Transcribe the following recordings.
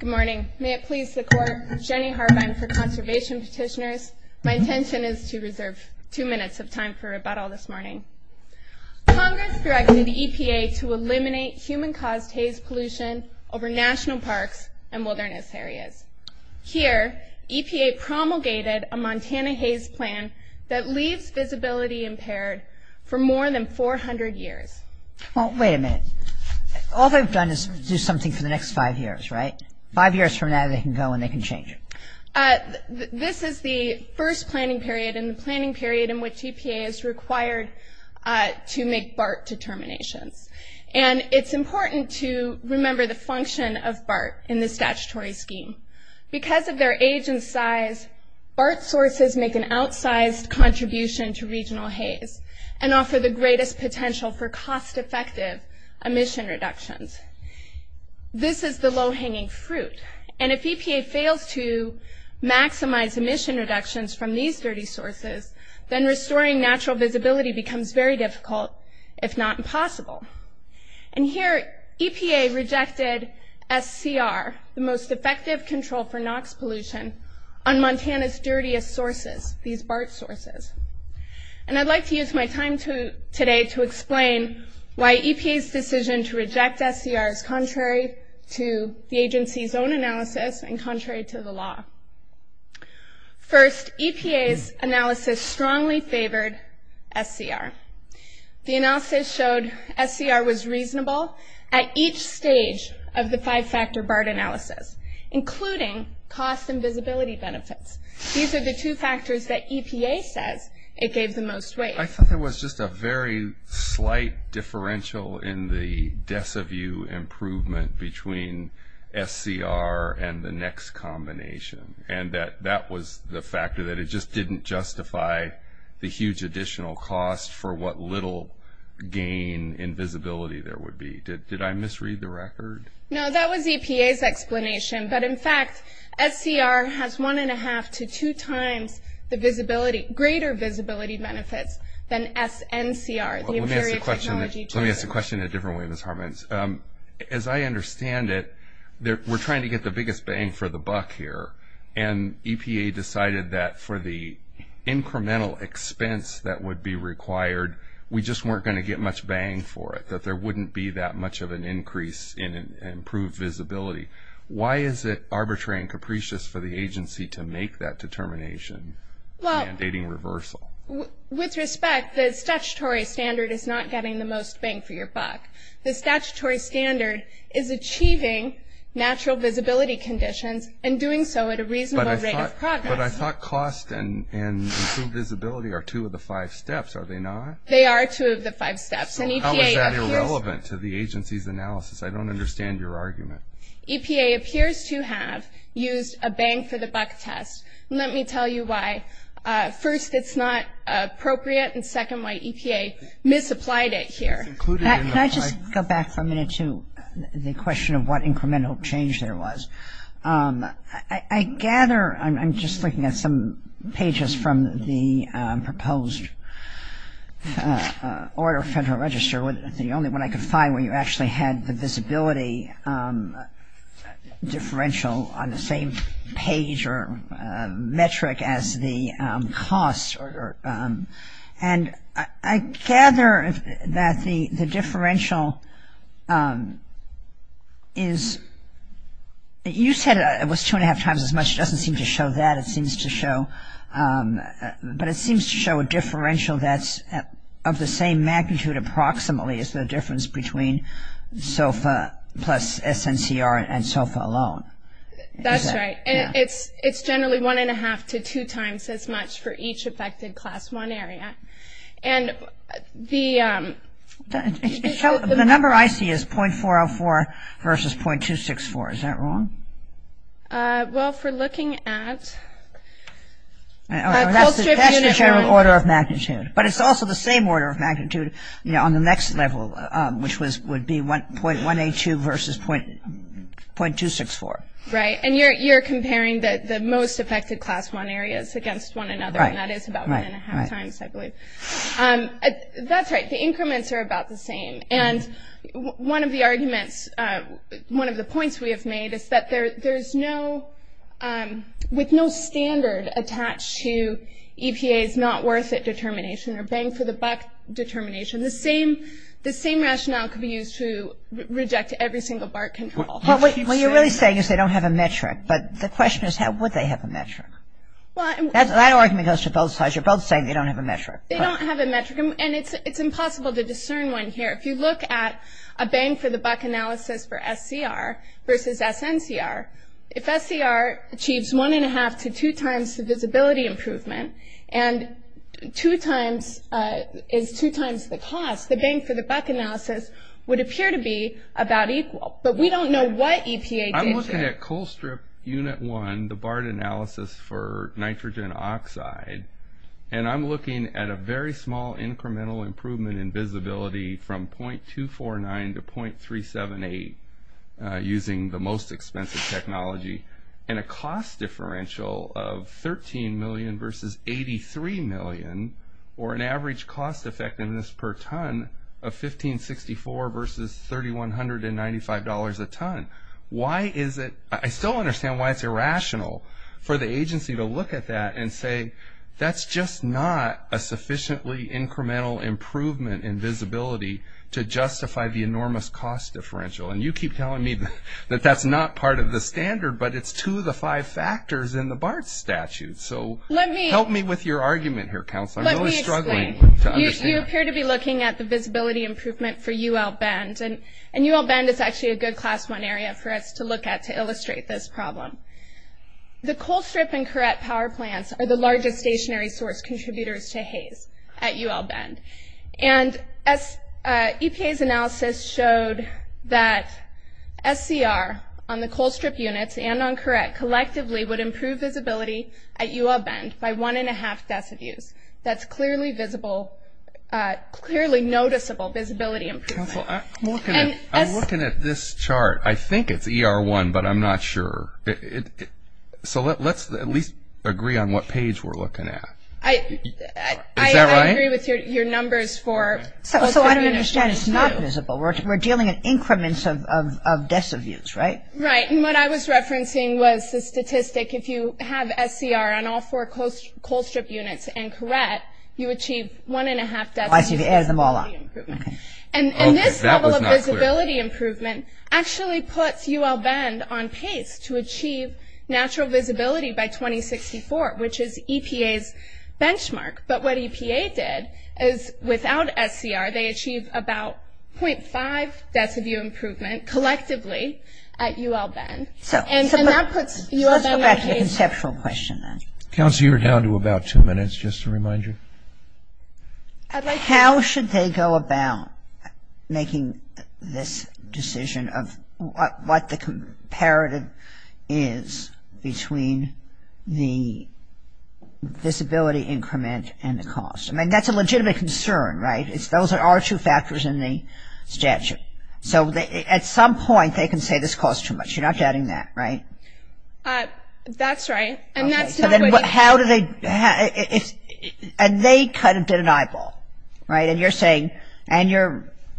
Good morning. May it please the Court, Jenny Harbine for Conservation Petitioners. My intention is to reserve two minutes of time for rebuttal this morning. Congress directed EPA to eliminate human-caused haze pollution over national parks and wilderness areas. Here, EPA promulgated a Montana Haze Plan that leaves visibility impaired for more than 400 years. Well, wait a minute. All they've done is do something for the next five years, right? Five years from now they can go and they can change it. This is the first planning period and the planning period in which EPA is required to make BART determinations. And it's important to remember the function of BART in the statutory scheme. Because of their age and size, BART sources make an outsized contribution to regional haze and offer the greatest potential for cost-effective emission reductions. This is the low-hanging fruit. And if EPA fails to maximize emission reductions from these dirty sources, then restoring natural visibility becomes very difficult, if not impossible. And here EPA rejected SCR, the most effective control for NOx pollution, on Montana's dirtiest sources, these BART sources. And I'd like to use my time today to explain why EPA's decision to reject SCR is contrary to the agency's own analysis and contrary to the law. First, EPA's analysis strongly favored SCR. The analysis showed SCR was reasonable at each stage of the five-factor BART analysis, including cost and visibility benefits. These are the two factors that EPA says it gave the most weight. I thought there was just a very slight differential in the deciview improvement between SCR and the next combination, and that that was the factor that it just didn't justify the huge additional cost for what little gain in visibility there would be. Did I misread the record? No, that was EPA's explanation. But, in fact, SCR has one-and-a-half to two times the visibility, greater visibility benefits than SNCR, the inferior technology tool. Let me ask the question in a different way, Ms. Harmon. As I understand it, we're trying to get the biggest bang for the buck here, and EPA decided that for the incremental expense that would be required, we just weren't going to get much bang for it, that there wouldn't be that much of an increase in improved visibility. Why is it arbitrary and capricious for the agency to make that determination mandating reversal? With respect, the statutory standard is not getting the most bang for your buck. The statutory standard is achieving natural visibility conditions and doing so at a reasonable rate of progress. But I thought cost and improved visibility are two of the five steps, are they not? They are two of the five steps. How is that irrelevant to the agency's analysis? I don't understand your argument. EPA appears to have used a bang for the buck test. Let me tell you why. First, it's not appropriate, and second, why EPA misapplied it here. Can I just go back for a minute to the question of what incremental change there was? I gather, I'm just looking at some pages from the proposed order of Federal Register, the only one I could find where you actually had the visibility differential on the same page or metric as the cost. And I gather that the differential is, you said it was two and a half times as much. It doesn't seem to show that. But it seems to show a differential that's of the same magnitude approximately as the difference between SOFA plus SNCR and SOFA alone. That's right. And it's generally one and a half to two times as much for each affected Class I area. And the number I see is .404 versus .264. Is that wrong? Well, if we're looking at a cold-strip unit... That's the general order of magnitude. But it's also the same order of magnitude on the next level, which would be .182 versus .264. Right. And you're comparing the most affected Class I areas against one another, and that is about one and a half times, I believe. That's right. The increments are about the same. And one of the arguments, one of the points we have made, is that there's no standard attached to EPA's not worth it determination or bang for the buck determination. The same rationale could be used to reject every single BART control. What you're really saying is they don't have a metric. But the question is, would they have a metric? That argument goes to both sides. You're both saying they don't have a metric. They don't have a metric. And it's impossible to discern one here. If you look at a bang for the buck analysis for SCR versus SNCR, if SCR achieves one and a half to two times the visibility improvement and is two times the cost, the bang for the buck analysis would appear to be about equal. But we don't know what EPA did here. I'm looking at cold-strip unit one, the BART analysis for nitrogen oxide, and I'm looking at a very small incremental improvement in visibility from 0.249 to 0.378 using the most expensive technology and a cost differential of $13 million versus $83 million, or an average cost effectiveness per ton of $1,564 versus $3,195 a ton. I still understand why it's irrational for the agency to look at that and say, that's just not a sufficiently incremental improvement in visibility to justify the enormous cost differential. And you keep telling me that that's not part of the standard, but it's two of the five factors in the BART statute. So help me with your argument here, Counselor. I'm really struggling to understand that. You appear to be looking at the visibility improvement for UL Bend. And UL Bend is actually a good class one area for us to look at to illustrate this problem. The cold-strip and correct power plants are the largest stationary source contributors to haze at UL Bend. And EPA's analysis showed that SCR on the cold-strip units and on correct collectively would improve visibility at UL Bend by one and a half decivues. That's clearly visible, clearly noticeable visibility improvement. Counselor, I'm looking at this chart. I think it's ER1, but I'm not sure. So let's at least agree on what page we're looking at. Is that right? I agree with your numbers for cold-strip units. So I don't understand. It's not visible. We're dealing in increments of decivues, right? Right. And what I was referencing was the statistic. If you have SCR on all four cold-strip units and correct, you achieve one and a half decivues of visibility improvement. And this level of visibility improvement actually puts UL Bend on pace to achieve natural visibility by 2064, which is EPA's benchmark. But what EPA did is without SCR, they achieved about 0.5 decivue improvement collectively at UL Bend. So let's go back to the conceptual question then. Counselor, you're down to about two minutes, just to remind you. How should they go about making this decision of what the comparative is between the visibility increment and the cost? I mean, that's a legitimate concern, right? Those are our two factors in the statute. So at some point they can say this costs too much. You're not doubting that, right? That's right. How do they – and they kind of did an eyeball, right? And you're saying – and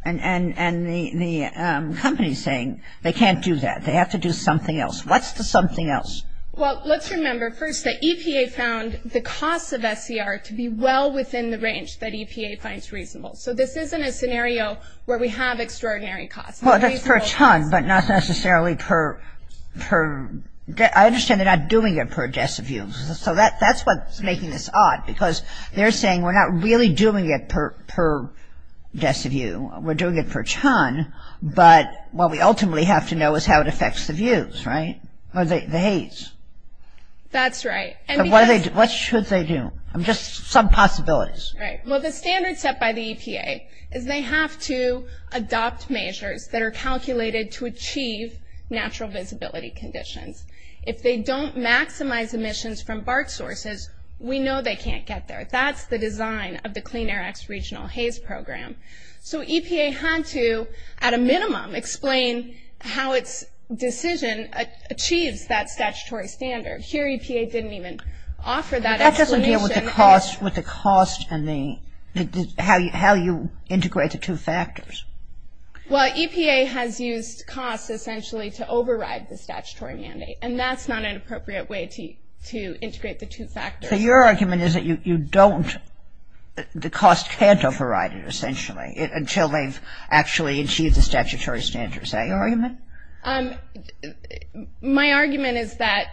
the company is saying they can't do that. They have to do something else. What's the something else? Well, let's remember, first, that EPA found the cost of SCR to be well within the range that EPA finds reasonable. So this isn't a scenario where we have extraordinary costs. Well, that's for a ton, but not necessarily per – I understand they're not doing it per deciview. So that's what's making this odd, because they're saying we're not really doing it per deciview. We're doing it per ton, but what we ultimately have to know is how it affects the views, right? Or the haze. That's right. What should they do? Just some possibilities. Well, the standard set by the EPA is they have to adopt measures that are calculated to achieve natural visibility conditions. If they don't maximize emissions from bark sources, we know they can't get there. That's the design of the Clean Air Act's regional haze program. So EPA had to, at a minimum, explain how its decision achieves that statutory standard. Here EPA didn't even offer that explanation. That doesn't deal with the cost and the – how you integrate the two factors. Well, EPA has used cost, essentially, to override the statutory mandate, and that's not an appropriate way to integrate the two factors. So your argument is that you don't – the cost can't override it, essentially, until they've actually achieved the statutory standard. Is that your argument? My argument is that,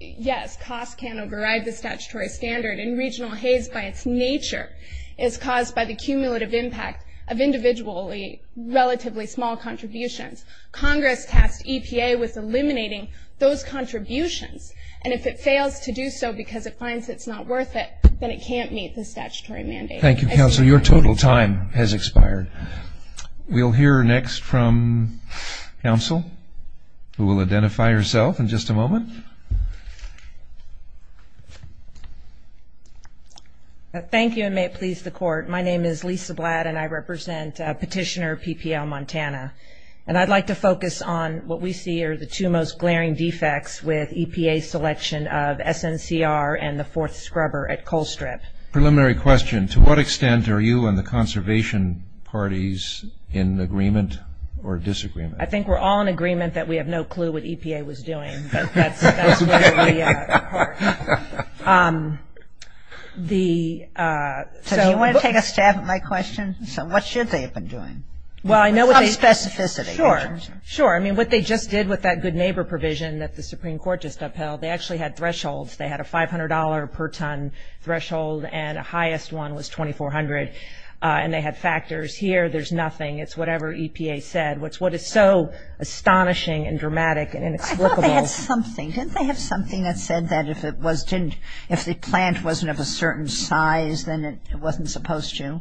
yes, cost can override the statutory standard, and regional haze, by its nature, is caused by the cumulative impact of individually relatively small contributions. Congress tasked EPA with eliminating those contributions, and if it fails to do so because it finds it's not worth it, then it can't meet the statutory mandate. Thank you, Counsel. Your total time has expired. We'll hear next from Counsel, who will identify herself in just a moment. Thank you, and may it please the Court. My name is Lisa Blatt, and I represent Petitioner PPL Montana. And I'd like to focus on what we see are the two most glaring defects with EPA's selection of SNCR and the fourth scrubber at Coal Strip. Preliminary question, to what extent are you and the conservation parties in agreement or disagreement? I think we're all in agreement that we have no clue what EPA was doing, but that's where we are. So do you want to take a stab at my question? So what should they have been doing? Well, I know what they – With some specificity. Sure, sure. I mean, what they just did with that good neighbor provision that the Supreme Court just upheld, they actually had thresholds. They had a $500 per ton threshold, and the highest one was 2,400, and they had factors. Here, there's nothing. It's whatever EPA said, which is what is so astonishing and dramatic and inexplicable. I thought they had something. Didn't they have something that said that if the plant wasn't of a certain size, then it wasn't supposed to?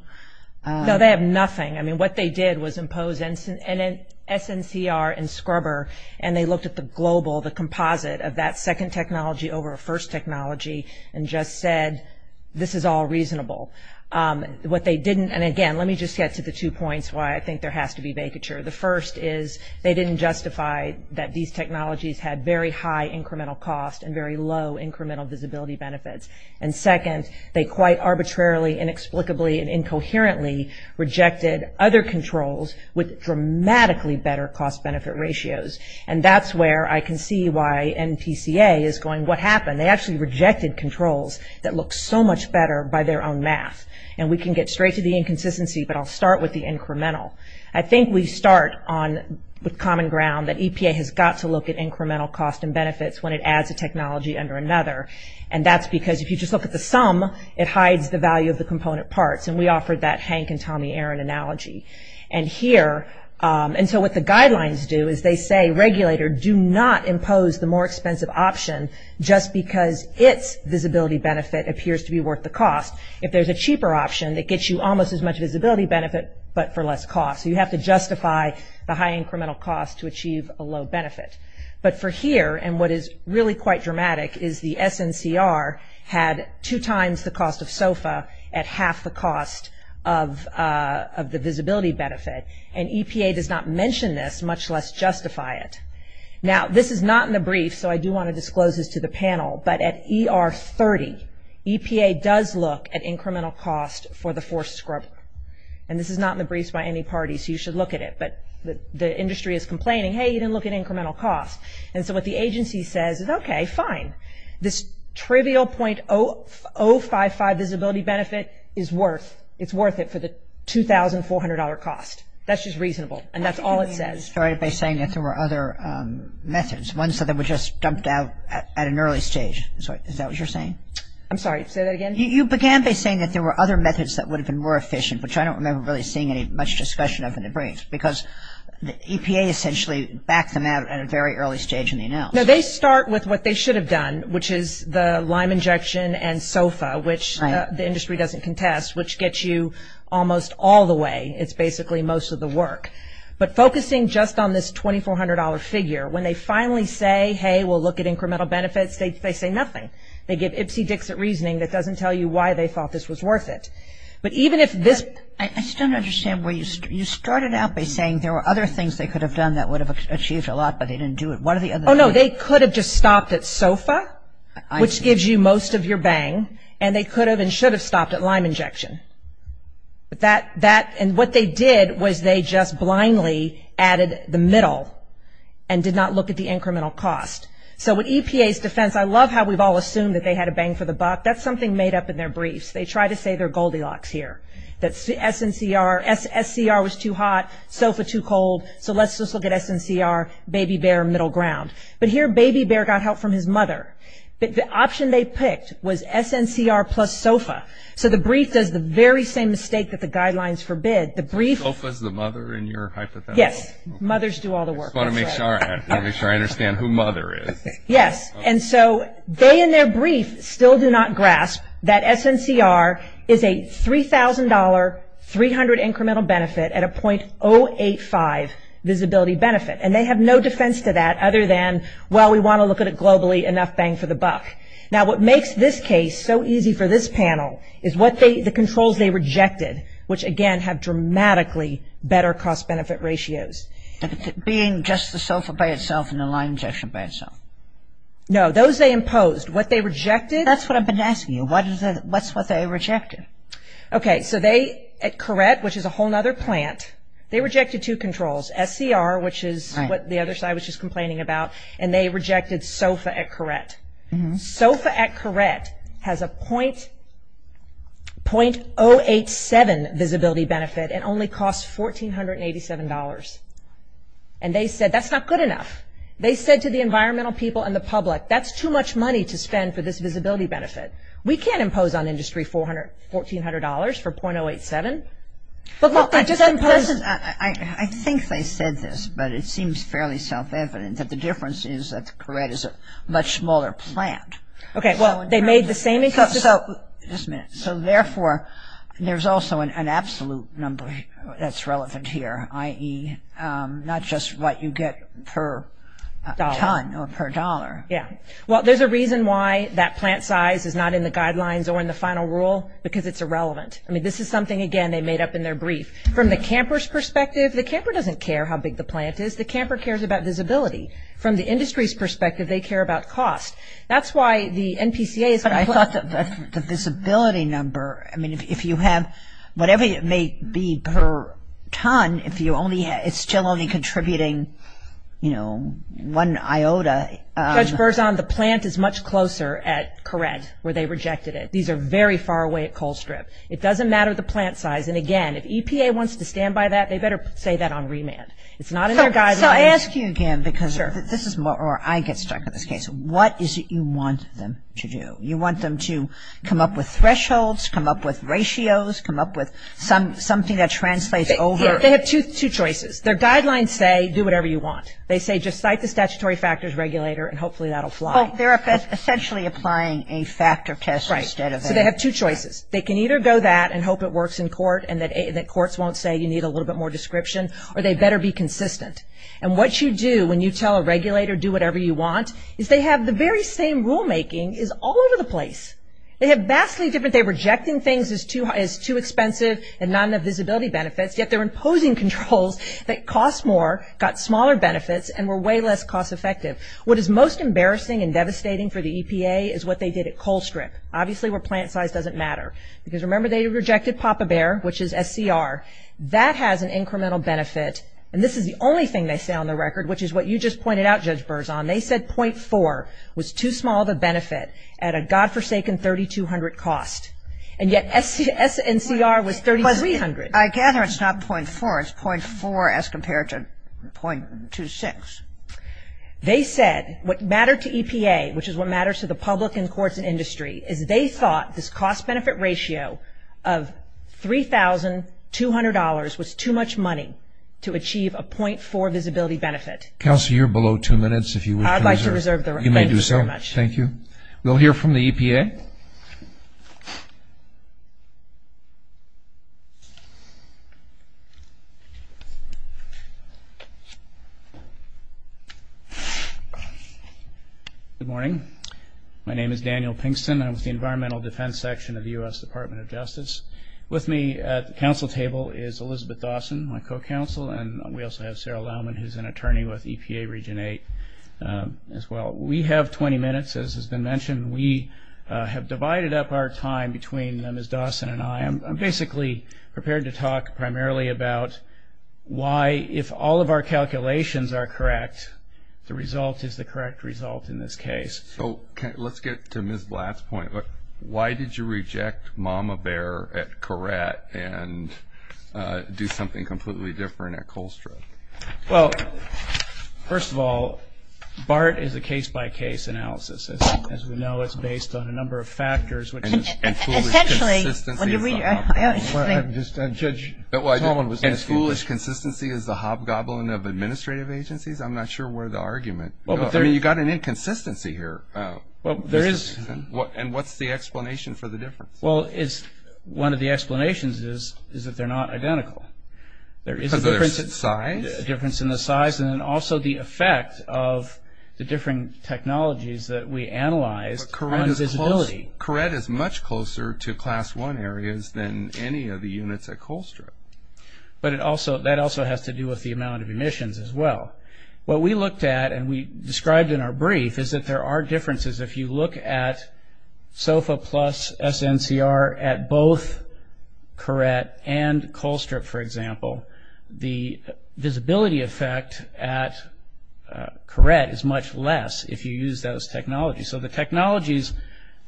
No, they have nothing. I mean, what they did was impose an SNCR and scrubber, and they looked at the global, the composite, of that second technology over a first technology and just said this is all reasonable. What they didn't, and again, let me just get to the two points why I think there has to be vacature. The first is they didn't justify that these technologies had very high incremental cost and very low incremental visibility benefits. And second, they quite arbitrarily, inexplicably, and incoherently rejected other controls with dramatically better cost-benefit ratios. And that's where I can see why NPCA is going, what happened? They actually rejected controls that look so much better by their own math. And we can get straight to the inconsistency, but I'll start with the incremental. I think we start with common ground that EPA has got to look at incremental cost and benefits when it adds a technology under another, and that's because if you just look at the sum, it hides the value of the component parts, and we offered that Hank and Tommy Aaron analogy. And here, and so what the guidelines do is they say regulator, do not impose the more expensive option just because its visibility benefit appears to be worth the cost. If there's a cheaper option that gets you almost as much visibility benefit, but for less cost. So you have to justify the high incremental cost to achieve a low benefit. But for here, and what is really quite dramatic, is the SNCR had two times the cost of SOFA at half the cost of the visibility benefit, and EPA does not mention this, much less justify it. Now, this is not in the brief, so I do want to disclose this to the panel, but at ER30, EPA does look at incremental cost for the force scrubber. And this is not in the briefs by any party, so you should look at it. But the industry is complaining, hey, you didn't look at incremental cost. And so what the agency says is, okay, fine, this trivial .055 visibility benefit is worth it for the $2,400 cost. That's just reasonable, and that's all it says. You started by saying that there were other methods, ones that were just dumped out at an early stage. Is that what you're saying? I'm sorry, say that again? You began by saying that there were other methods that would have been more efficient, which I don't remember really seeing any much discussion of in the No, they start with what they should have done, which is the lime injection and SOFA, which the industry doesn't contest, which gets you almost all the way. It's basically most of the work. But focusing just on this $2,400 figure, when they finally say, hey, we'll look at incremental benefits, they say nothing. They give ipsy-dixit reasoning that doesn't tell you why they thought this was worth it. But even if this I just don't understand where you started. You started out by saying there were other things they could have done that would have achieved a lot, but they didn't do it. Oh, no, they could have just stopped at SOFA, which gives you most of your bang, and they could have and should have stopped at lime injection. And what they did was they just blindly added the middle and did not look at the incremental cost. So with EPA's defense, I love how we've all assumed that they had a bang for the buck. That's something made up in their briefs. They try to say they're Goldilocks here, that SCR was too hot, SOFA too cold, so let's just look at SNCR, baby bear, middle ground. But here baby bear got help from his mother. The option they picked was SNCR plus SOFA. So the brief does the very same mistake that the guidelines forbid. SOFA is the mother in your hypothesis? Yes. Mothers do all the work. I just want to make sure I understand who mother is. Yes. And so they in their brief still do not grasp that SNCR is a $3,000, $3,000 incremental benefit at a .085 visibility benefit. And they have no defense to that other than, well, we want to look at it globally, enough bang for the buck. Now what makes this case so easy for this panel is the controls they rejected, which, again, have dramatically better cost-benefit ratios. Being just the SOFA by itself and the lime injection by itself. No, those they imposed. What they rejected. That's what I've been asking you. What's what they rejected? Lime injection. Okay, so they at Caret, which is a whole other plant, they rejected two controls, SCR, which is what the other side was just complaining about, and they rejected SOFA at Caret. SOFA at Caret has a .087 visibility benefit and only costs $1,487. And they said that's not good enough. They said to the environmental people and the public, that's too much money to spend for this visibility benefit. We can't impose on industry $1,400 for .087. I think they said this, but it seems fairly self-evident, that the difference is that Caret is a much smaller plant. Okay, well, they made the same insistence. So, therefore, there's also an absolute number that's relevant here, i.e., not just what you get per ton or per dollar. Yeah. Well, there's a reason why that plant size is not in the guidelines or in the final rule, because it's irrelevant. I mean, this is something, again, they made up in their brief. From the camper's perspective, the camper doesn't care how big the plant is. The camper cares about visibility. From the industry's perspective, they care about cost. That's why the NPCA is going to put a visibility number. I mean, if you have whatever it may be per ton, it's still only contributing, you know, one iota. Judge Berzon, the plant is much closer at Caret, where they rejected it. These are very far away at Coal Strip. It doesn't matter the plant size. And, again, if EPA wants to stand by that, they better say that on remand. It's not in their guidelines. So I ask you again, because this is where I get stuck in this case. What is it you want them to do? You want them to come up with thresholds, come up with ratios, come up with something that translates over. They have two choices. Their guidelines say, do whatever you want. They say, just cite the statutory factors regulator, and hopefully that will fly. Well, they're essentially applying a factor test instead of a... Right. So they have two choices. They can either go that and hope it works in court and that courts won't say you need a little bit more description, or they better be consistent. And what you do when you tell a regulator, do whatever you want, is they have the very same rulemaking is all over the place. They have vastly different. They're rejecting things as too expensive and not enough visibility benefits, yet they're imposing controls that cost more, got smaller benefits, and were way less cost effective. What is most embarrassing and devastating for the EPA is what they did at Coal Strip, obviously where plant size doesn't matter. Because remember, they rejected Papa Bear, which is SCR. That has an incremental benefit. And this is the only thing they say on the record, which is what you just pointed out, Judge Berzon. They said .4 was too small of a benefit at a godforsaken $3,200 cost, and yet SNCR was $3,300. I gather it's not .4. It's .4 as compared to .26. They said what mattered to EPA, which is what matters to the public and courts and industry, is they thought this cost-benefit ratio of $3,200 was too much money to achieve a .4 visibility benefit. Counselor, you're below two minutes. I'd like to reserve the right. You may do so. Thank you very much. We'll hear from the EPA. Good morning. My name is Daniel Pinkston. I'm with the Environmental Defense Section of the U.S. Department of Justice. With me at the council table is Elizabeth Dawson, my co-counsel, and we also have Sarah Loughman, who's an attorney with EPA Region 8 as well. We have 20 minutes, as has been mentioned. We have divided up our time between Ms. Dawson and I. I'm basically prepared to talk primarily about why, if all of our calculations are correct, the result is the correct result in this case. Let's get to Ms. Blatt's point. Why did you reject Mama Bear at Courette and do something completely different at Colstrip? Well, first of all, BART is a case-by-case analysis. As we know, it's based on a number of factors. And foolish consistency is the hobgoblin of administrative agencies? I'm not sure where the argument goes. I mean, you've got an inconsistency here. And what's the explanation for the difference? Well, one of the explanations is that they're not identical. Because of their size? There is a difference in the size and also the effect of the different technologies that we analyzed on visibility. But Courette is much closer to Class I areas than any of the units at Colstrip. But that also has to do with the amount of emissions as well. What we looked at and we described in our brief is that there are differences. If you look at SOFA plus SNCR at both Courette and Colstrip, for example, the visibility effect at Courette is much less if you use those technologies. So the technologies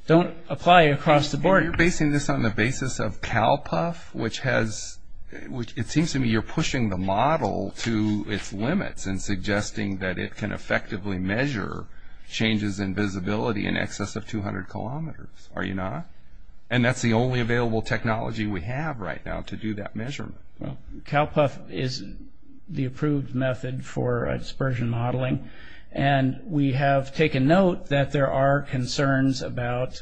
don't apply across the board. You're basing this on the basis of CalPUF? It seems to me you're pushing the model to its limits and suggesting that it can effectively measure changes in visibility in excess of 200 kilometers. Are you not? And that's the only available technology we have right now to do that measurement. CalPUF is the approved method for dispersion modeling. And we have taken note that there are concerns about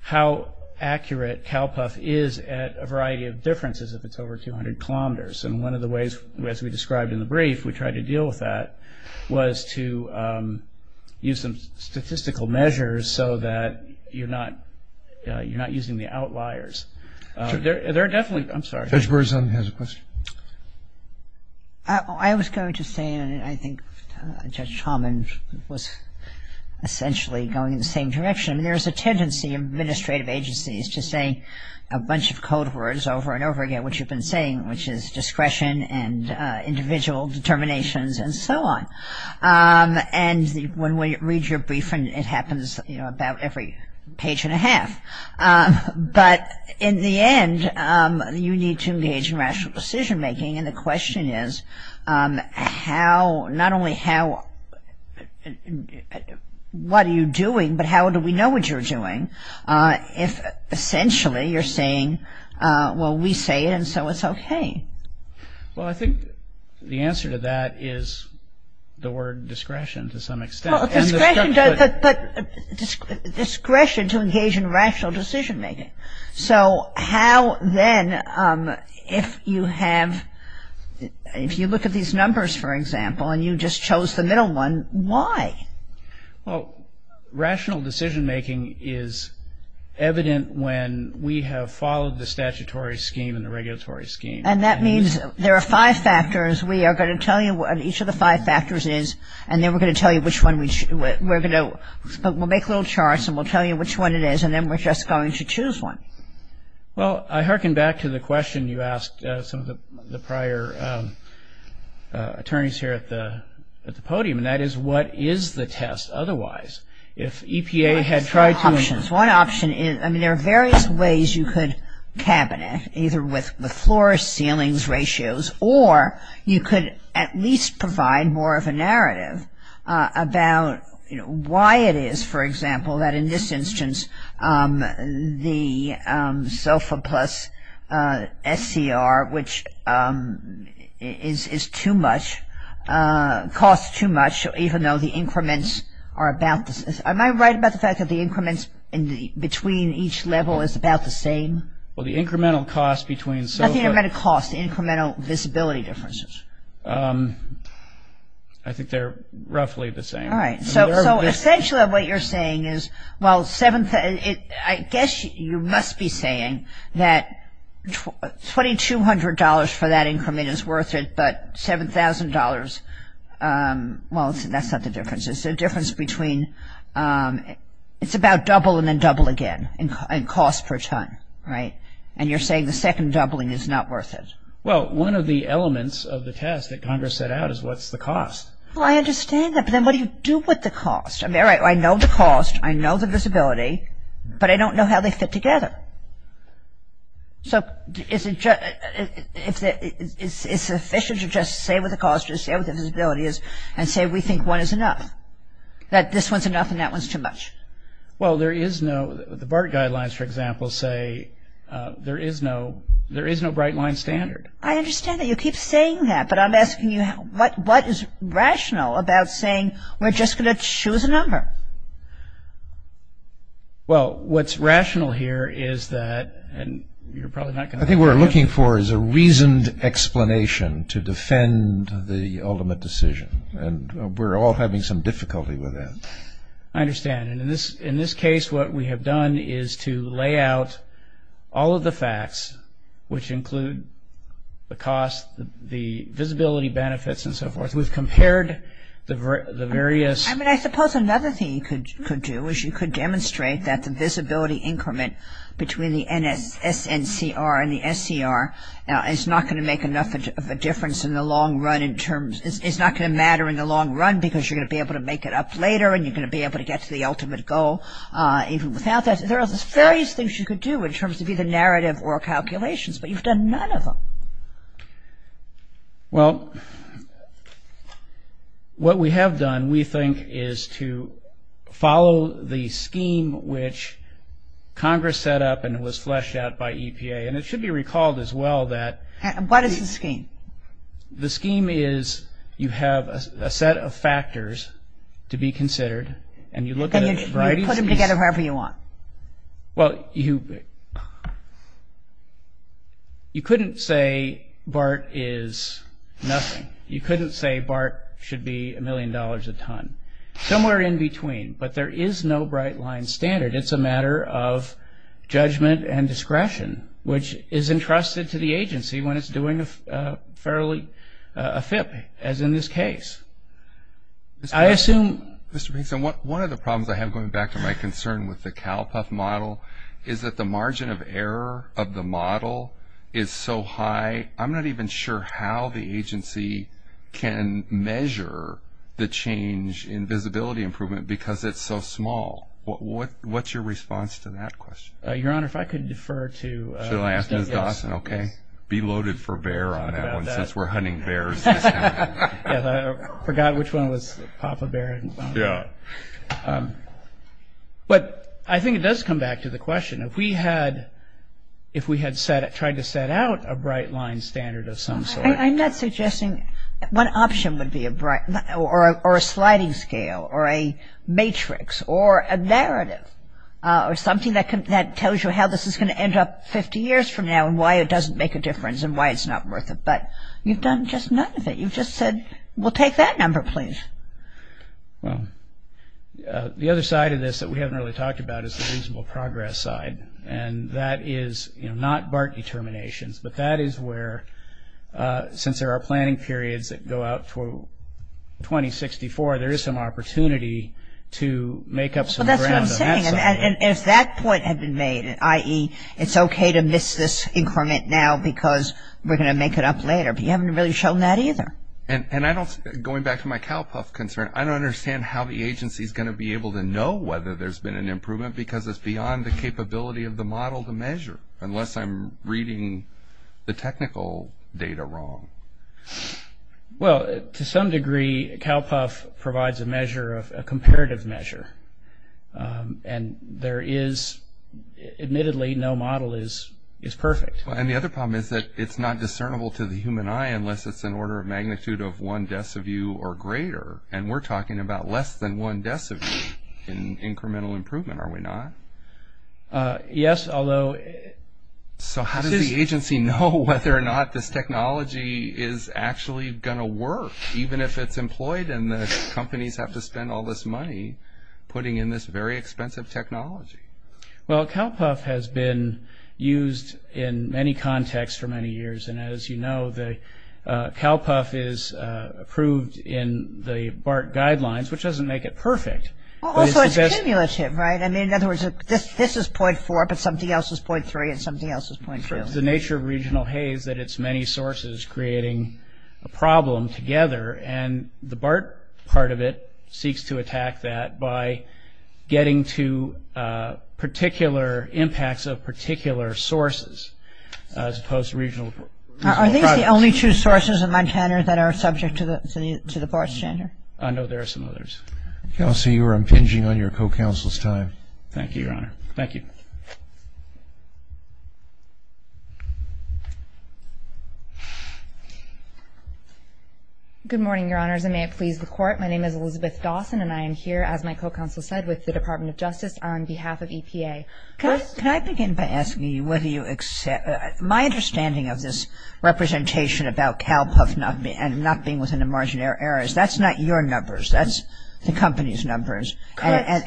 how accurate CalPUF is at a variety of differences if it's over 200 kilometers. And one of the ways, as we described in the brief, we tried to deal with that, was to use some statistical measures so that you're not using the outliers. There are definitely – I'm sorry. Judge Berzon has a question. I was going to say, and I think Judge Tomlin was essentially going in the same direction, there's a tendency in administrative agencies to say a bunch of code words over and over again, what you've been saying, which is discretion and individual determinations and so on. And when we read your brief, it happens about every page and a half. But in the end, you need to engage in rational decision-making, and the question is how – not only how – what are you doing, but how do we know what you're doing if essentially you're saying, well, we say it and so it's okay? Well, I think the answer to that is the word discretion to some extent. But discretion to engage in rational decision-making. So how then, if you have – if you look at these numbers, for example, and you just chose the middle one, why? Well, rational decision-making is evident when we have followed the statutory scheme and the regulatory scheme. And that means there are five factors. We are going to tell you what each of the five factors is, and then we're going to tell you which one we – we're going to – we'll make little charts, and we'll tell you which one it is, and then we're just going to choose one. Well, I hearken back to the question you asked some of the prior attorneys here at the podium, and that is what is the test otherwise? If EPA had tried to – One option is – I mean, there are various ways you could cabinet, either with floors, ceilings, ratios, or you could at least provide more of a narrative about why it is, for example, that in this instance the SOFA plus SCR, which is too much, costs too much, even though the increments are about the – am I right about the fact that the increments between each level is about the same? Well, the incremental cost between SOFA – I think I meant the cost, the incremental visibility differences. I think they're roughly the same. All right. So essentially what you're saying is, well, seven – I guess you must be saying that $2,200 for that increment is worth it, but $7,000 – well, that's not the difference. It's the difference between – it's about double and then double again in cost per ton, right? And you're saying the second doubling is not worth it. Well, one of the elements of the test that Congress set out is what's the cost. Well, I understand that, but then what do you do with the cost? I know the cost. I know the visibility, but I don't know how they fit together. So is it sufficient to just say what the cost is, say what the visibility is, and say we think one is enough, that this one's enough and that one's too much? Well, there is no – the BART guidelines, for example, say there is no bright line standard. I understand that. You keep saying that, but I'm asking you what is rational about saying we're just going to choose a number? Well, what's rational here is that – and you're probably not going to – I think what we're looking for is a reasoned explanation to defend the ultimate decision, and we're all having some difficulty with that. I understand. And in this case, what we have done is to lay out all of the facts, which include the cost, the visibility benefits, and so forth. We've compared the various – I mean, I suppose another thing you could do is you could demonstrate that the visibility increment between the SNCR and the SCR is not going to make enough of a difference in the long run in terms – it's not going to matter in the long run because you're going to be able to make it up later and you're going to be able to get to the ultimate goal even without that. There are various things you could do in terms of either narrative or calculations, but you've done none of them. Well, what we have done, we think, is to follow the scheme which Congress set up and was fleshed out by EPA. And it should be recalled as well that – What is the scheme? The scheme is you have a set of factors to be considered and you look at a variety of – And you put them together however you want. Well, you couldn't say BART is nothing. You couldn't say BART should be a million dollars a ton. Somewhere in between, but there is no bright-line standard. It's a matter of judgment and discretion, which is entrusted to the agency when it's doing fairly a fit, as in this case. I assume – Mr. Pinkson, one of the problems I have, going back to my concern with the cowpuff model, is that the margin of error of the model is so high, I'm not even sure how the agency can measure the change in visibility improvement because it's so small. What's your response to that question? Your Honor, if I could defer to – Should I ask Ms. Dawson? Okay. Be loaded for bear on that one, since we're hunting bears. I forgot which one was Papa Bear. But I think it does come back to the question, if we had tried to set out a bright-line standard of some sort – I'm not suggesting – One option would be a sliding scale or a matrix or a narrative or something that tells you how this is going to end up 50 years from now and why it doesn't make a difference and why it's not worth it. But you've done just none of it. You've just said, we'll take that number, please. Well, the other side of this that we haven't really talked about is the reasonable progress side. And that is not BART determinations, but that is where, since there are planning periods that go out for 2064, there is some opportunity to make up some ground. That's what I'm saying. And if that point had been made, i.e., it's okay to miss this increment now because we're going to make it up later, but you haven't really shown that either. And going back to my CalPUF concern, I don't understand how the agency is going to be able to know whether there's been an improvement because it's beyond the capability of the model to measure, unless I'm reading the technical data wrong. Well, to some degree, CalPUF provides a measure, a comparative measure. And there is, admittedly, no model is perfect. And the other problem is that it's not discernible to the human eye unless it's an order of magnitude of one deciview or greater. And we're talking about less than one deciview in incremental improvement, are we not? Yes, although... So how does the agency know whether or not this technology is actually going to work, even if it's employed and the companies have to spend all this money putting in this very expensive technology? Well, CalPUF has been used in many contexts for many years. And as you know, CalPUF is approved in the BART guidelines, which doesn't make it perfect. Well, also it's cumulative, right? I mean, in other words, this is .4, but something else is .3 and something else is .2. The nature of regional hay is that it's many sources creating a problem together, and the BART part of it seeks to attack that by getting to particular impacts of particular sources as opposed to regional projects. Are these the only two sources in Montana that are subject to the BART standard? No, there are some others. Kelsey, you are impinging on your co-counsel's time. Thank you, Your Honor. Thank you. Good morning, Your Honors, and may it please the Court. My name is Elizabeth Dawson, and I am here, as my co-counsel said, with the Department of Justice on behalf of EPA. Can I begin by asking you whether you accept my understanding of this representation about CalPUF not being within the margin of error? That's not your numbers. That's the company's numbers. Correct.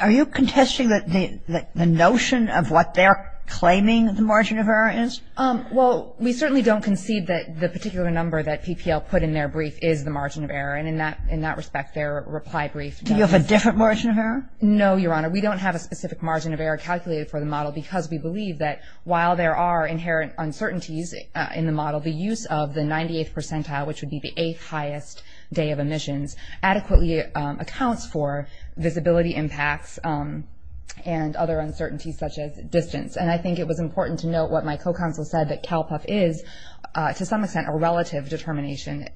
Are you contesting the notion of what they're claiming the margin of error is? Well, we certainly don't concede that the particular number that PPL put in their brief is the margin of error, and in that respect, their reply brief does. Do you have a different margin of error? No, Your Honor. We don't have a specific margin of error calculated for the model because we believe that while there are inherent uncertainties in the model, the use of the 98th percentile, which would be the eighth highest day of emissions, adequately accounts for visibility impacts and other uncertainties such as distance. And I think it was important to note what my co-counsel said, that CalPUF is, to some extent, a relative determination.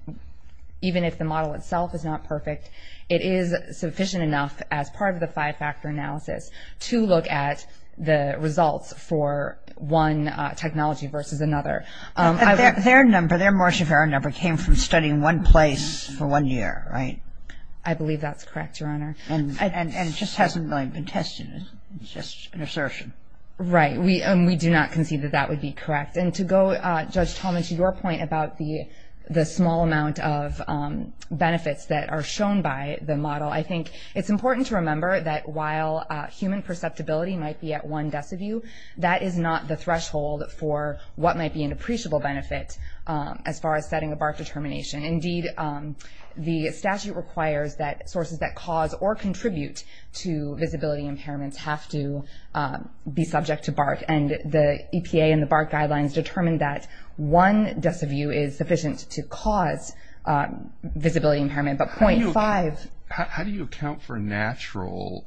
Even if the model itself is not perfect, it is sufficient enough as part of the five-factor analysis to look at the results for one technology versus another. Their number, their margin of error number, came from studying one place for one year, right? I believe that's correct, Your Honor. And it just hasn't been tested. It's just an assertion. Right. And we do not concede that that would be correct. And to go, Judge Tallman, to your point about the small amount of benefits that are shown by the model, I think it's important to remember that while human perceptibility might be at one deciview, that is not the threshold for what might be an appreciable benefit as far as setting a BART determination. Indeed, the statute requires that sources that cause or contribute to visibility impairments have to be subject to BART. And the EPA and the BART guidelines determine that one deciview is sufficient to cause visibility impairment, but .5. How do you account for natural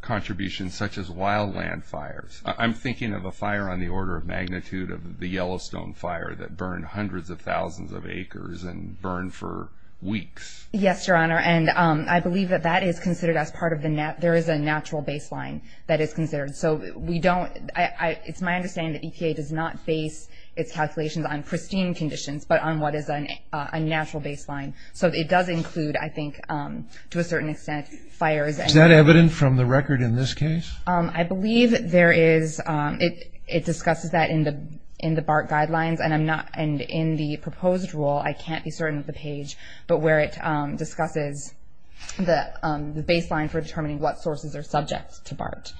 contributions such as wildland fires? I'm thinking of a fire on the order of magnitude of the Yellowstone fire that burned hundreds of thousands of acres and burned for weeks. Yes, Your Honor. And I believe that that is considered as part of the natural baseline that is considered. So it's my understanding that EPA does not base its calculations on pristine conditions, but on what is a natural baseline. So it does include, I think, to a certain extent, fires. Is that evident from the record in this case? I believe it discusses that in the BART guidelines. And in the proposed rule, I can't be certain of the page, but where it discusses the baseline for determining what sources are subject to BART.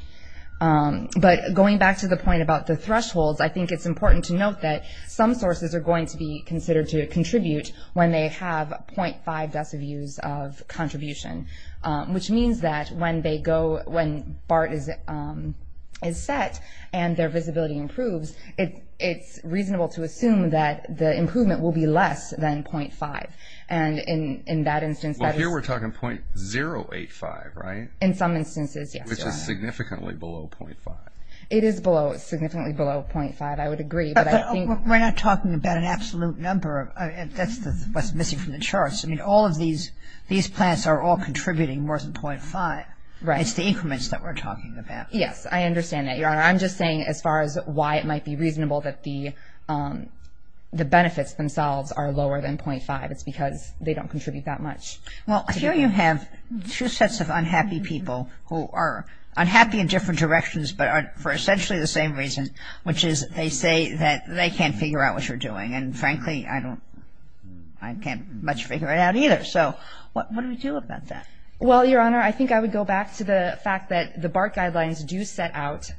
But going back to the point about the thresholds, I think it's important to note that some sources are going to be considered to contribute when they have .5 deciviews of contribution, which means that when BART is set and their visibility improves, it's reasonable to assume that the improvement will be less than .5. And in that instance, that is... Well, here we're talking .085, right? In some instances, yes, Your Honor. Which is significantly below .5. It is significantly below .5, I would agree, but I think... But we're not talking about an absolute number. That's what's missing from the charts. I mean, all of these plants are all contributing more than .5. It's the increments that we're talking about. Yes, I understand that, Your Honor. I'm just saying as far as why it might be reasonable that the benefits themselves are lower than .5. It's because they don't contribute that much. Well, here you have two sets of unhappy people who are unhappy in different directions but are for essentially the same reason, which is they say that they can't figure out what you're doing. And frankly, I can't much figure it out either. So what do we do about that? Well, Your Honor, I think I would go back to the fact that the BART guidelines do set out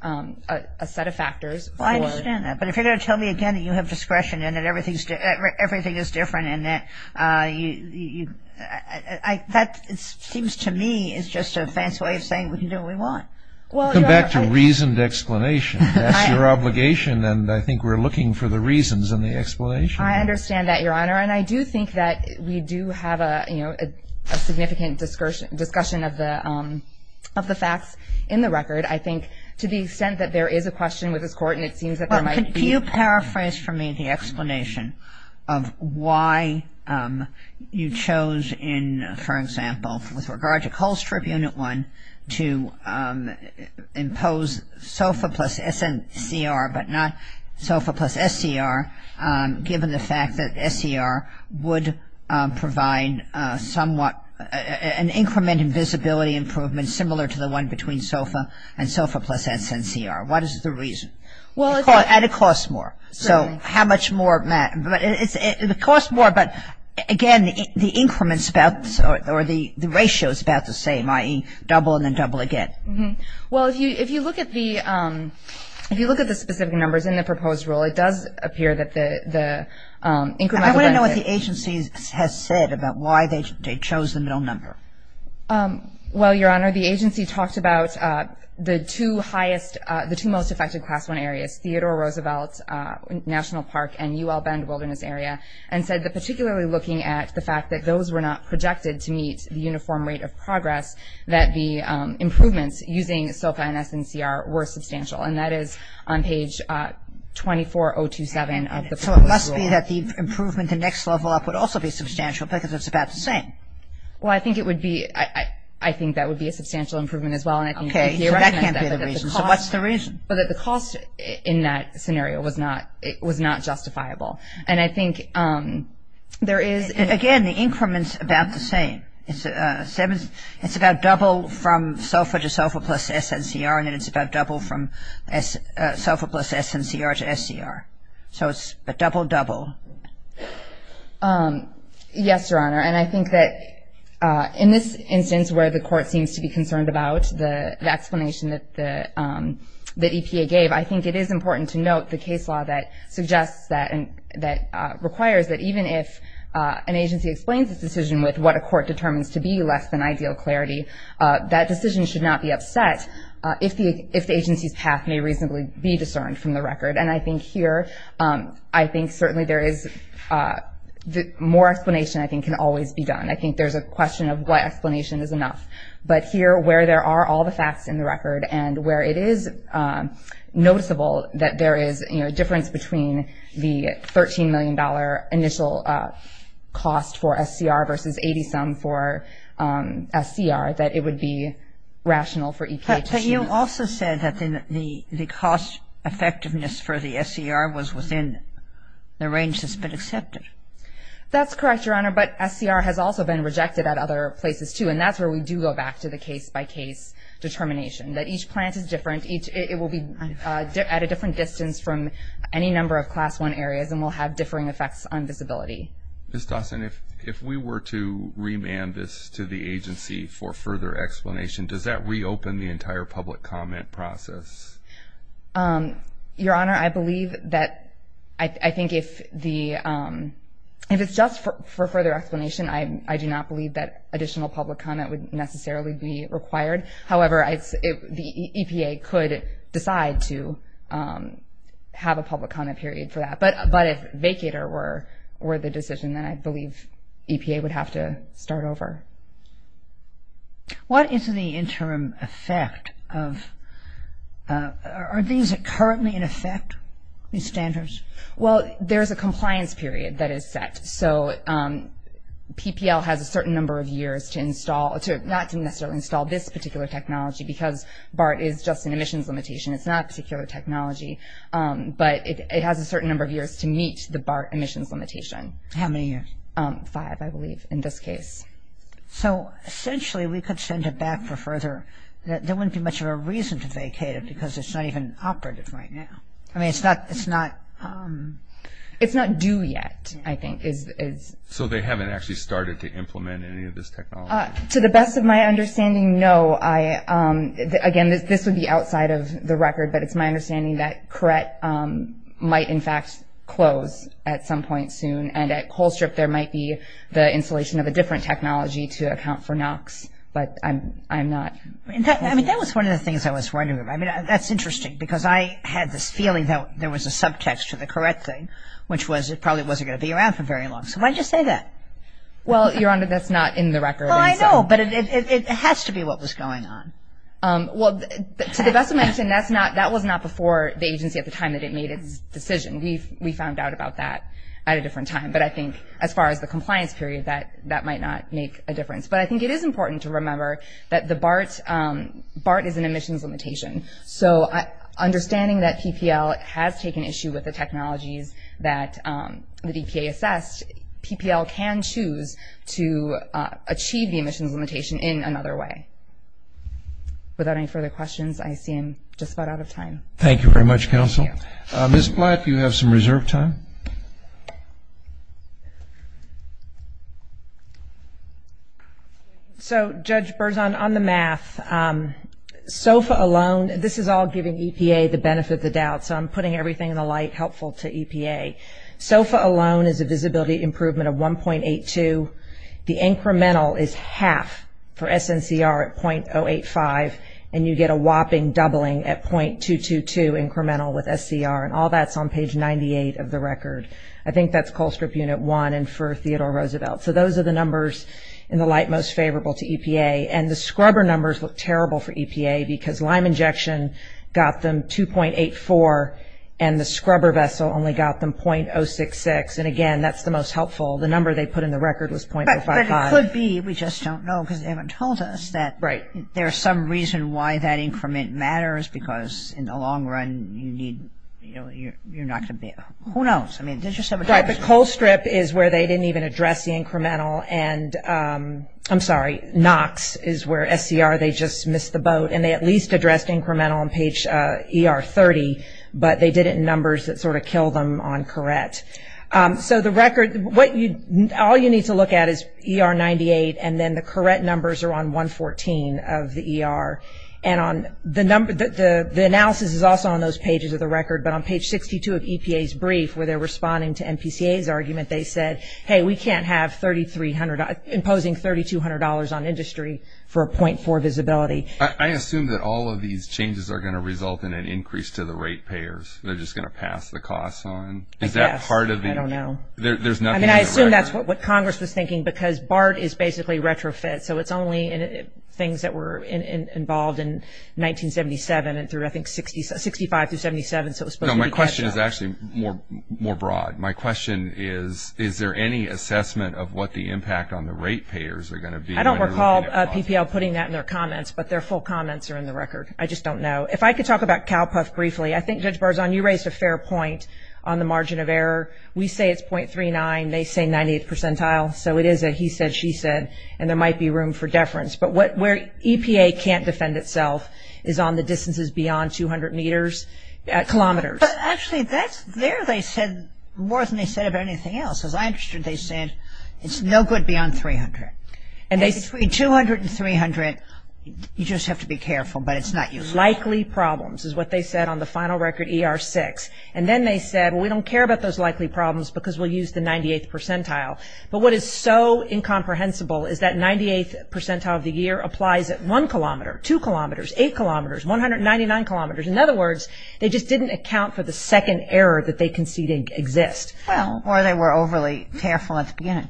a set of factors. Well, I understand that. But if you're going to tell me again that you have discretion and that everything is different and that seems to me is just a fancy way of saying we can do what we want. Well, Your Honor... We'll come back to reasoned explanation. That's your obligation. And I think we're looking for the reasons in the explanation. I understand that, Your Honor. And I do think that we do have a significant discussion of the facts in the record. I think to the extent that there is a question with this Court and it seems that there might be... Well, could you paraphrase for me the explanation of why you chose in, for example, with regard to Coal Strip Unit 1 to impose SOFA plus SNCR, but not SOFA plus SCR, given the fact that SCR would provide somewhat an increment in visibility improvement similar to the one between SOFA and SOFA plus SNCR. What is the reason? Well, it's... So how much more, Matt? It costs more, but again, the increment is about, or the ratio is about the same, i.e., double and then double again. Well, if you look at the specific numbers in the proposed rule, it does appear that the increment... I want to know what the agency has said about why they chose the middle number. Well, Your Honor, the agency talked about the two highest, the two most affected Class 1 areas, Theodore Roosevelt National Park and UL Bend Wilderness Area, and said that particularly looking at the fact that those were not projected to meet the uniform rate of progress, that the improvements using SOFA and SNCR were substantial, and that is on page 24027 of the proposed rule. So it must be that the improvement the next level up would also be substantial because it's about the same. Well, I think it would be, I think that would be a substantial improvement as well, Okay, so that can't be the reason. I think that the improvement in that scenario was not justifiable. And I think there is... Again, the increment's about the same. It's about double from SOFA to SOFA plus SNCR, and then it's about double from SOFA plus SNCR to SCR. So it's a double-double. Yes, Your Honor, and I think that in this instance where the Court seems to be concerned about the explanation that EPA gave, I think it is important to note the case law that suggests that and that requires that even if an agency explains its decision with what a court determines to be less than ideal clarity, that decision should not be upset if the agency's path may reasonably be discerned from the record. And I think here, I think certainly there is... More explanation, I think, can always be done. I think there's a question of what explanation is enough. But here, where there are all the facts in the record and where it is noticeable that there is a difference between the $13 million initial cost for SCR versus 80-some for SCR, that it would be rational for EPA to choose... But you also said that the cost effectiveness for the SCR was within the range that's been accepted. That's correct, Your Honor, but SCR has also been rejected at other places, too, and that's where we do go back to the case-by-case determination, that each plant is different, it will be at a different distance from any number of Class I areas and will have differing effects on visibility. Ms. Dawson, if we were to remand this to the agency for further explanation, does that reopen the entire public comment process? Your Honor, I believe that... I think if it's just for further explanation, I do not believe that additional public comment would necessarily be required. However, the EPA could decide to have a public comment period for that. But if vacater were the decision, then I believe EPA would have to start over. What is the interim effect of... Are these currently in effect, these standards? Well, there's a compliance period that is set. So PPL has a certain number of years not to necessarily install this particular technology because BART is just an emissions limitation. It's not a particular technology. But it has a certain number of years to meet the BART emissions limitation. How many years? Five, I believe, in this case. So essentially we could send it back for further... There wouldn't be much of a reason to vacate it because it's not even operative right now. I mean, it's not... It's not due yet, I think, is... So they haven't actually started to implement any of this technology? To the best of my understanding, no. Again, this would be outside of the record, but it's my understanding that CORET might in fact close at some point soon. And at Coal Strip there might be the installation of a different technology to account for NOx. But I'm not... I mean, that was one of the things I was wondering about. I mean, that's interesting because I had this feeling that there was a subtext to the CORET thing, which was it probably wasn't going to be around for very long. So why did you say that? Well, Your Honor, that's not in the record. Well, I know, but it has to be what was going on. Well, to the best of my understanding, that was not before the agency at the time that it made its decision. We found out about that at a different time. But I think as far as the compliance period, that might not make a difference. But I think it is important to remember that the BART is an emissions limitation. So understanding that PPL has taken issue with the technologies that the DPA assessed, PPL can choose to achieve the emissions limitation in another way. Without any further questions, I seem just about out of time. Thank you very much, Counsel. Thank you. Ms. Black, you have some reserve time. So, Judge Berzon, on the math, SOFA alone, this is all giving EPA the benefit of the doubt, so I'm putting everything in the light helpful to EPA. SOFA alone is a visibility improvement of 1.82. The incremental is half for SNCR at .085, and you get a whopping doubling at .222 incremental with SCR, and all that's on page 98 of the record. I think that's Cold Script Unit 1 and for Theodore Roosevelt. So those are the numbers in the light most favorable to EPA. And the scrubber numbers look terrible for EPA because lime injection got them 2.84, and the scrubber vessel only got them .066. And, again, that's the most helpful. The number they put in the record was .055. But it could be, we just don't know because they haven't told us that there's some reason why that increment matters because in the long run you need, you know, you're not going to be able to. Who knows? Right, but Cold Script is where they didn't even address the incremental, and I'm sorry, NOx is where SCR, they just missed the boat, and they at least addressed incremental on page ER 30, but they did it in numbers that sort of killed them on correct. So the record, what you, all you need to look at is ER 98, and then the correct numbers are on 114 of the ER. And on the number, the analysis is also on those pages of the record, but on page 62 of EPA's brief where they're responding to MPCA's argument, they said, hey, we can't have $3,300, imposing $3,200 on industry for a .4 visibility. I assume that all of these changes are going to result in an increase to the rate payers. They're just going to pass the costs on. Is that part of the? I don't know. I mean, I assume that's what Congress was thinking because BART is basically retrofit, so it's only things that were involved in 1977 and through, I think, 65 through 77. No, my question is actually more broad. My question is, is there any assessment of what the impact on the rate payers are going to be? I don't recall PPL putting that in their comments, but their full comments are in the record. I just don't know. If I could talk about CalPUF briefly, I think, Judge Barzahn, you raised a fair point on the margin of error. We say it's .39, they say 98th percentile, so it is a he said, she said, and there might be room for deference. But where EPA can't defend itself is on the distances beyond 200 meters, kilometers. Actually, that's there, they said, more than they said about anything else. As I understood, they said it's no good beyond 300. 200 and 300, you just have to be careful, but it's not useful. Likely problems is what they said on the final record ER6. And then they said, well, we don't care about those likely problems because we'll use the 98th percentile. But what is so incomprehensible is that 98th percentile of the year applies at 1 kilometer, 2 kilometers, 8 kilometers, 199 kilometers. In other words, they just didn't account for the second error that they conceded exists. Well, or they were overly careful at the beginning.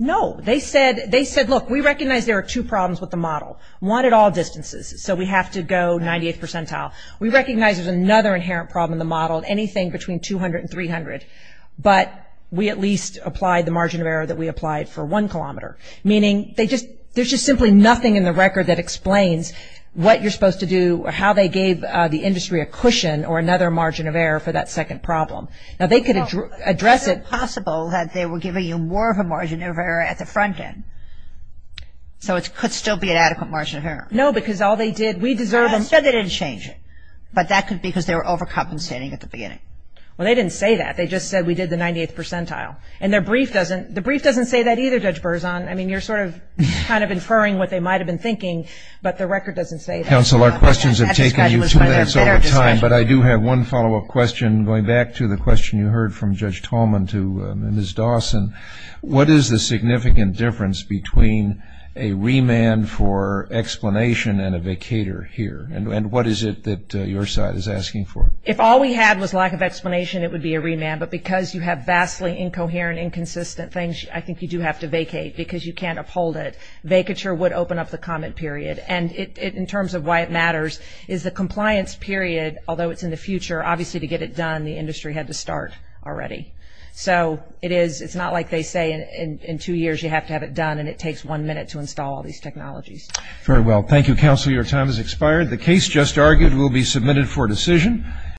No, they said, look, we recognize there are two problems with the model, one at all distances, so we have to go 98th percentile. We recognize there's another inherent problem in the model, anything between 200 and 300, but we at least applied the margin of error that we applied for 1 kilometer. Meaning there's just simply nothing in the record that explains what you're supposed to do or how they gave the industry a cushion or another margin of error for that second problem. Now, they could address it. Well, is it possible that they were giving you more of a margin of error at the front end, so it could still be an adequate margin of error? No, because all they did, we deserve them. No, they didn't change it, but that could be because they were overcompensating at the beginning. Well, they didn't say that. They just said we did the 98th percentile. And the brief doesn't say that either, Judge Berzon. I mean, you're sort of kind of inferring what they might have been thinking, but the record doesn't say that. Counsel, our questions have taken you two minutes over time, but I do have one follow-up question going back to the question you heard from Judge Tallman to Ms. Dawson. What is the significant difference between a remand for explanation and a vacator here? And what is it that your side is asking for? If all we had was lack of explanation, it would be a remand. But because you have vastly incoherent, inconsistent things, I think you do have to vacate because you can't uphold it. Vacature would open up the comment period. And in terms of why it matters is the compliance period, although it's in the future, obviously to get it done the industry had to start already. So it's not like they say in two years you have to have it done and it takes one minute to install all these technologies. Very well. Thank you, Counsel. Your time has expired. The case just argued will be submitted for decision.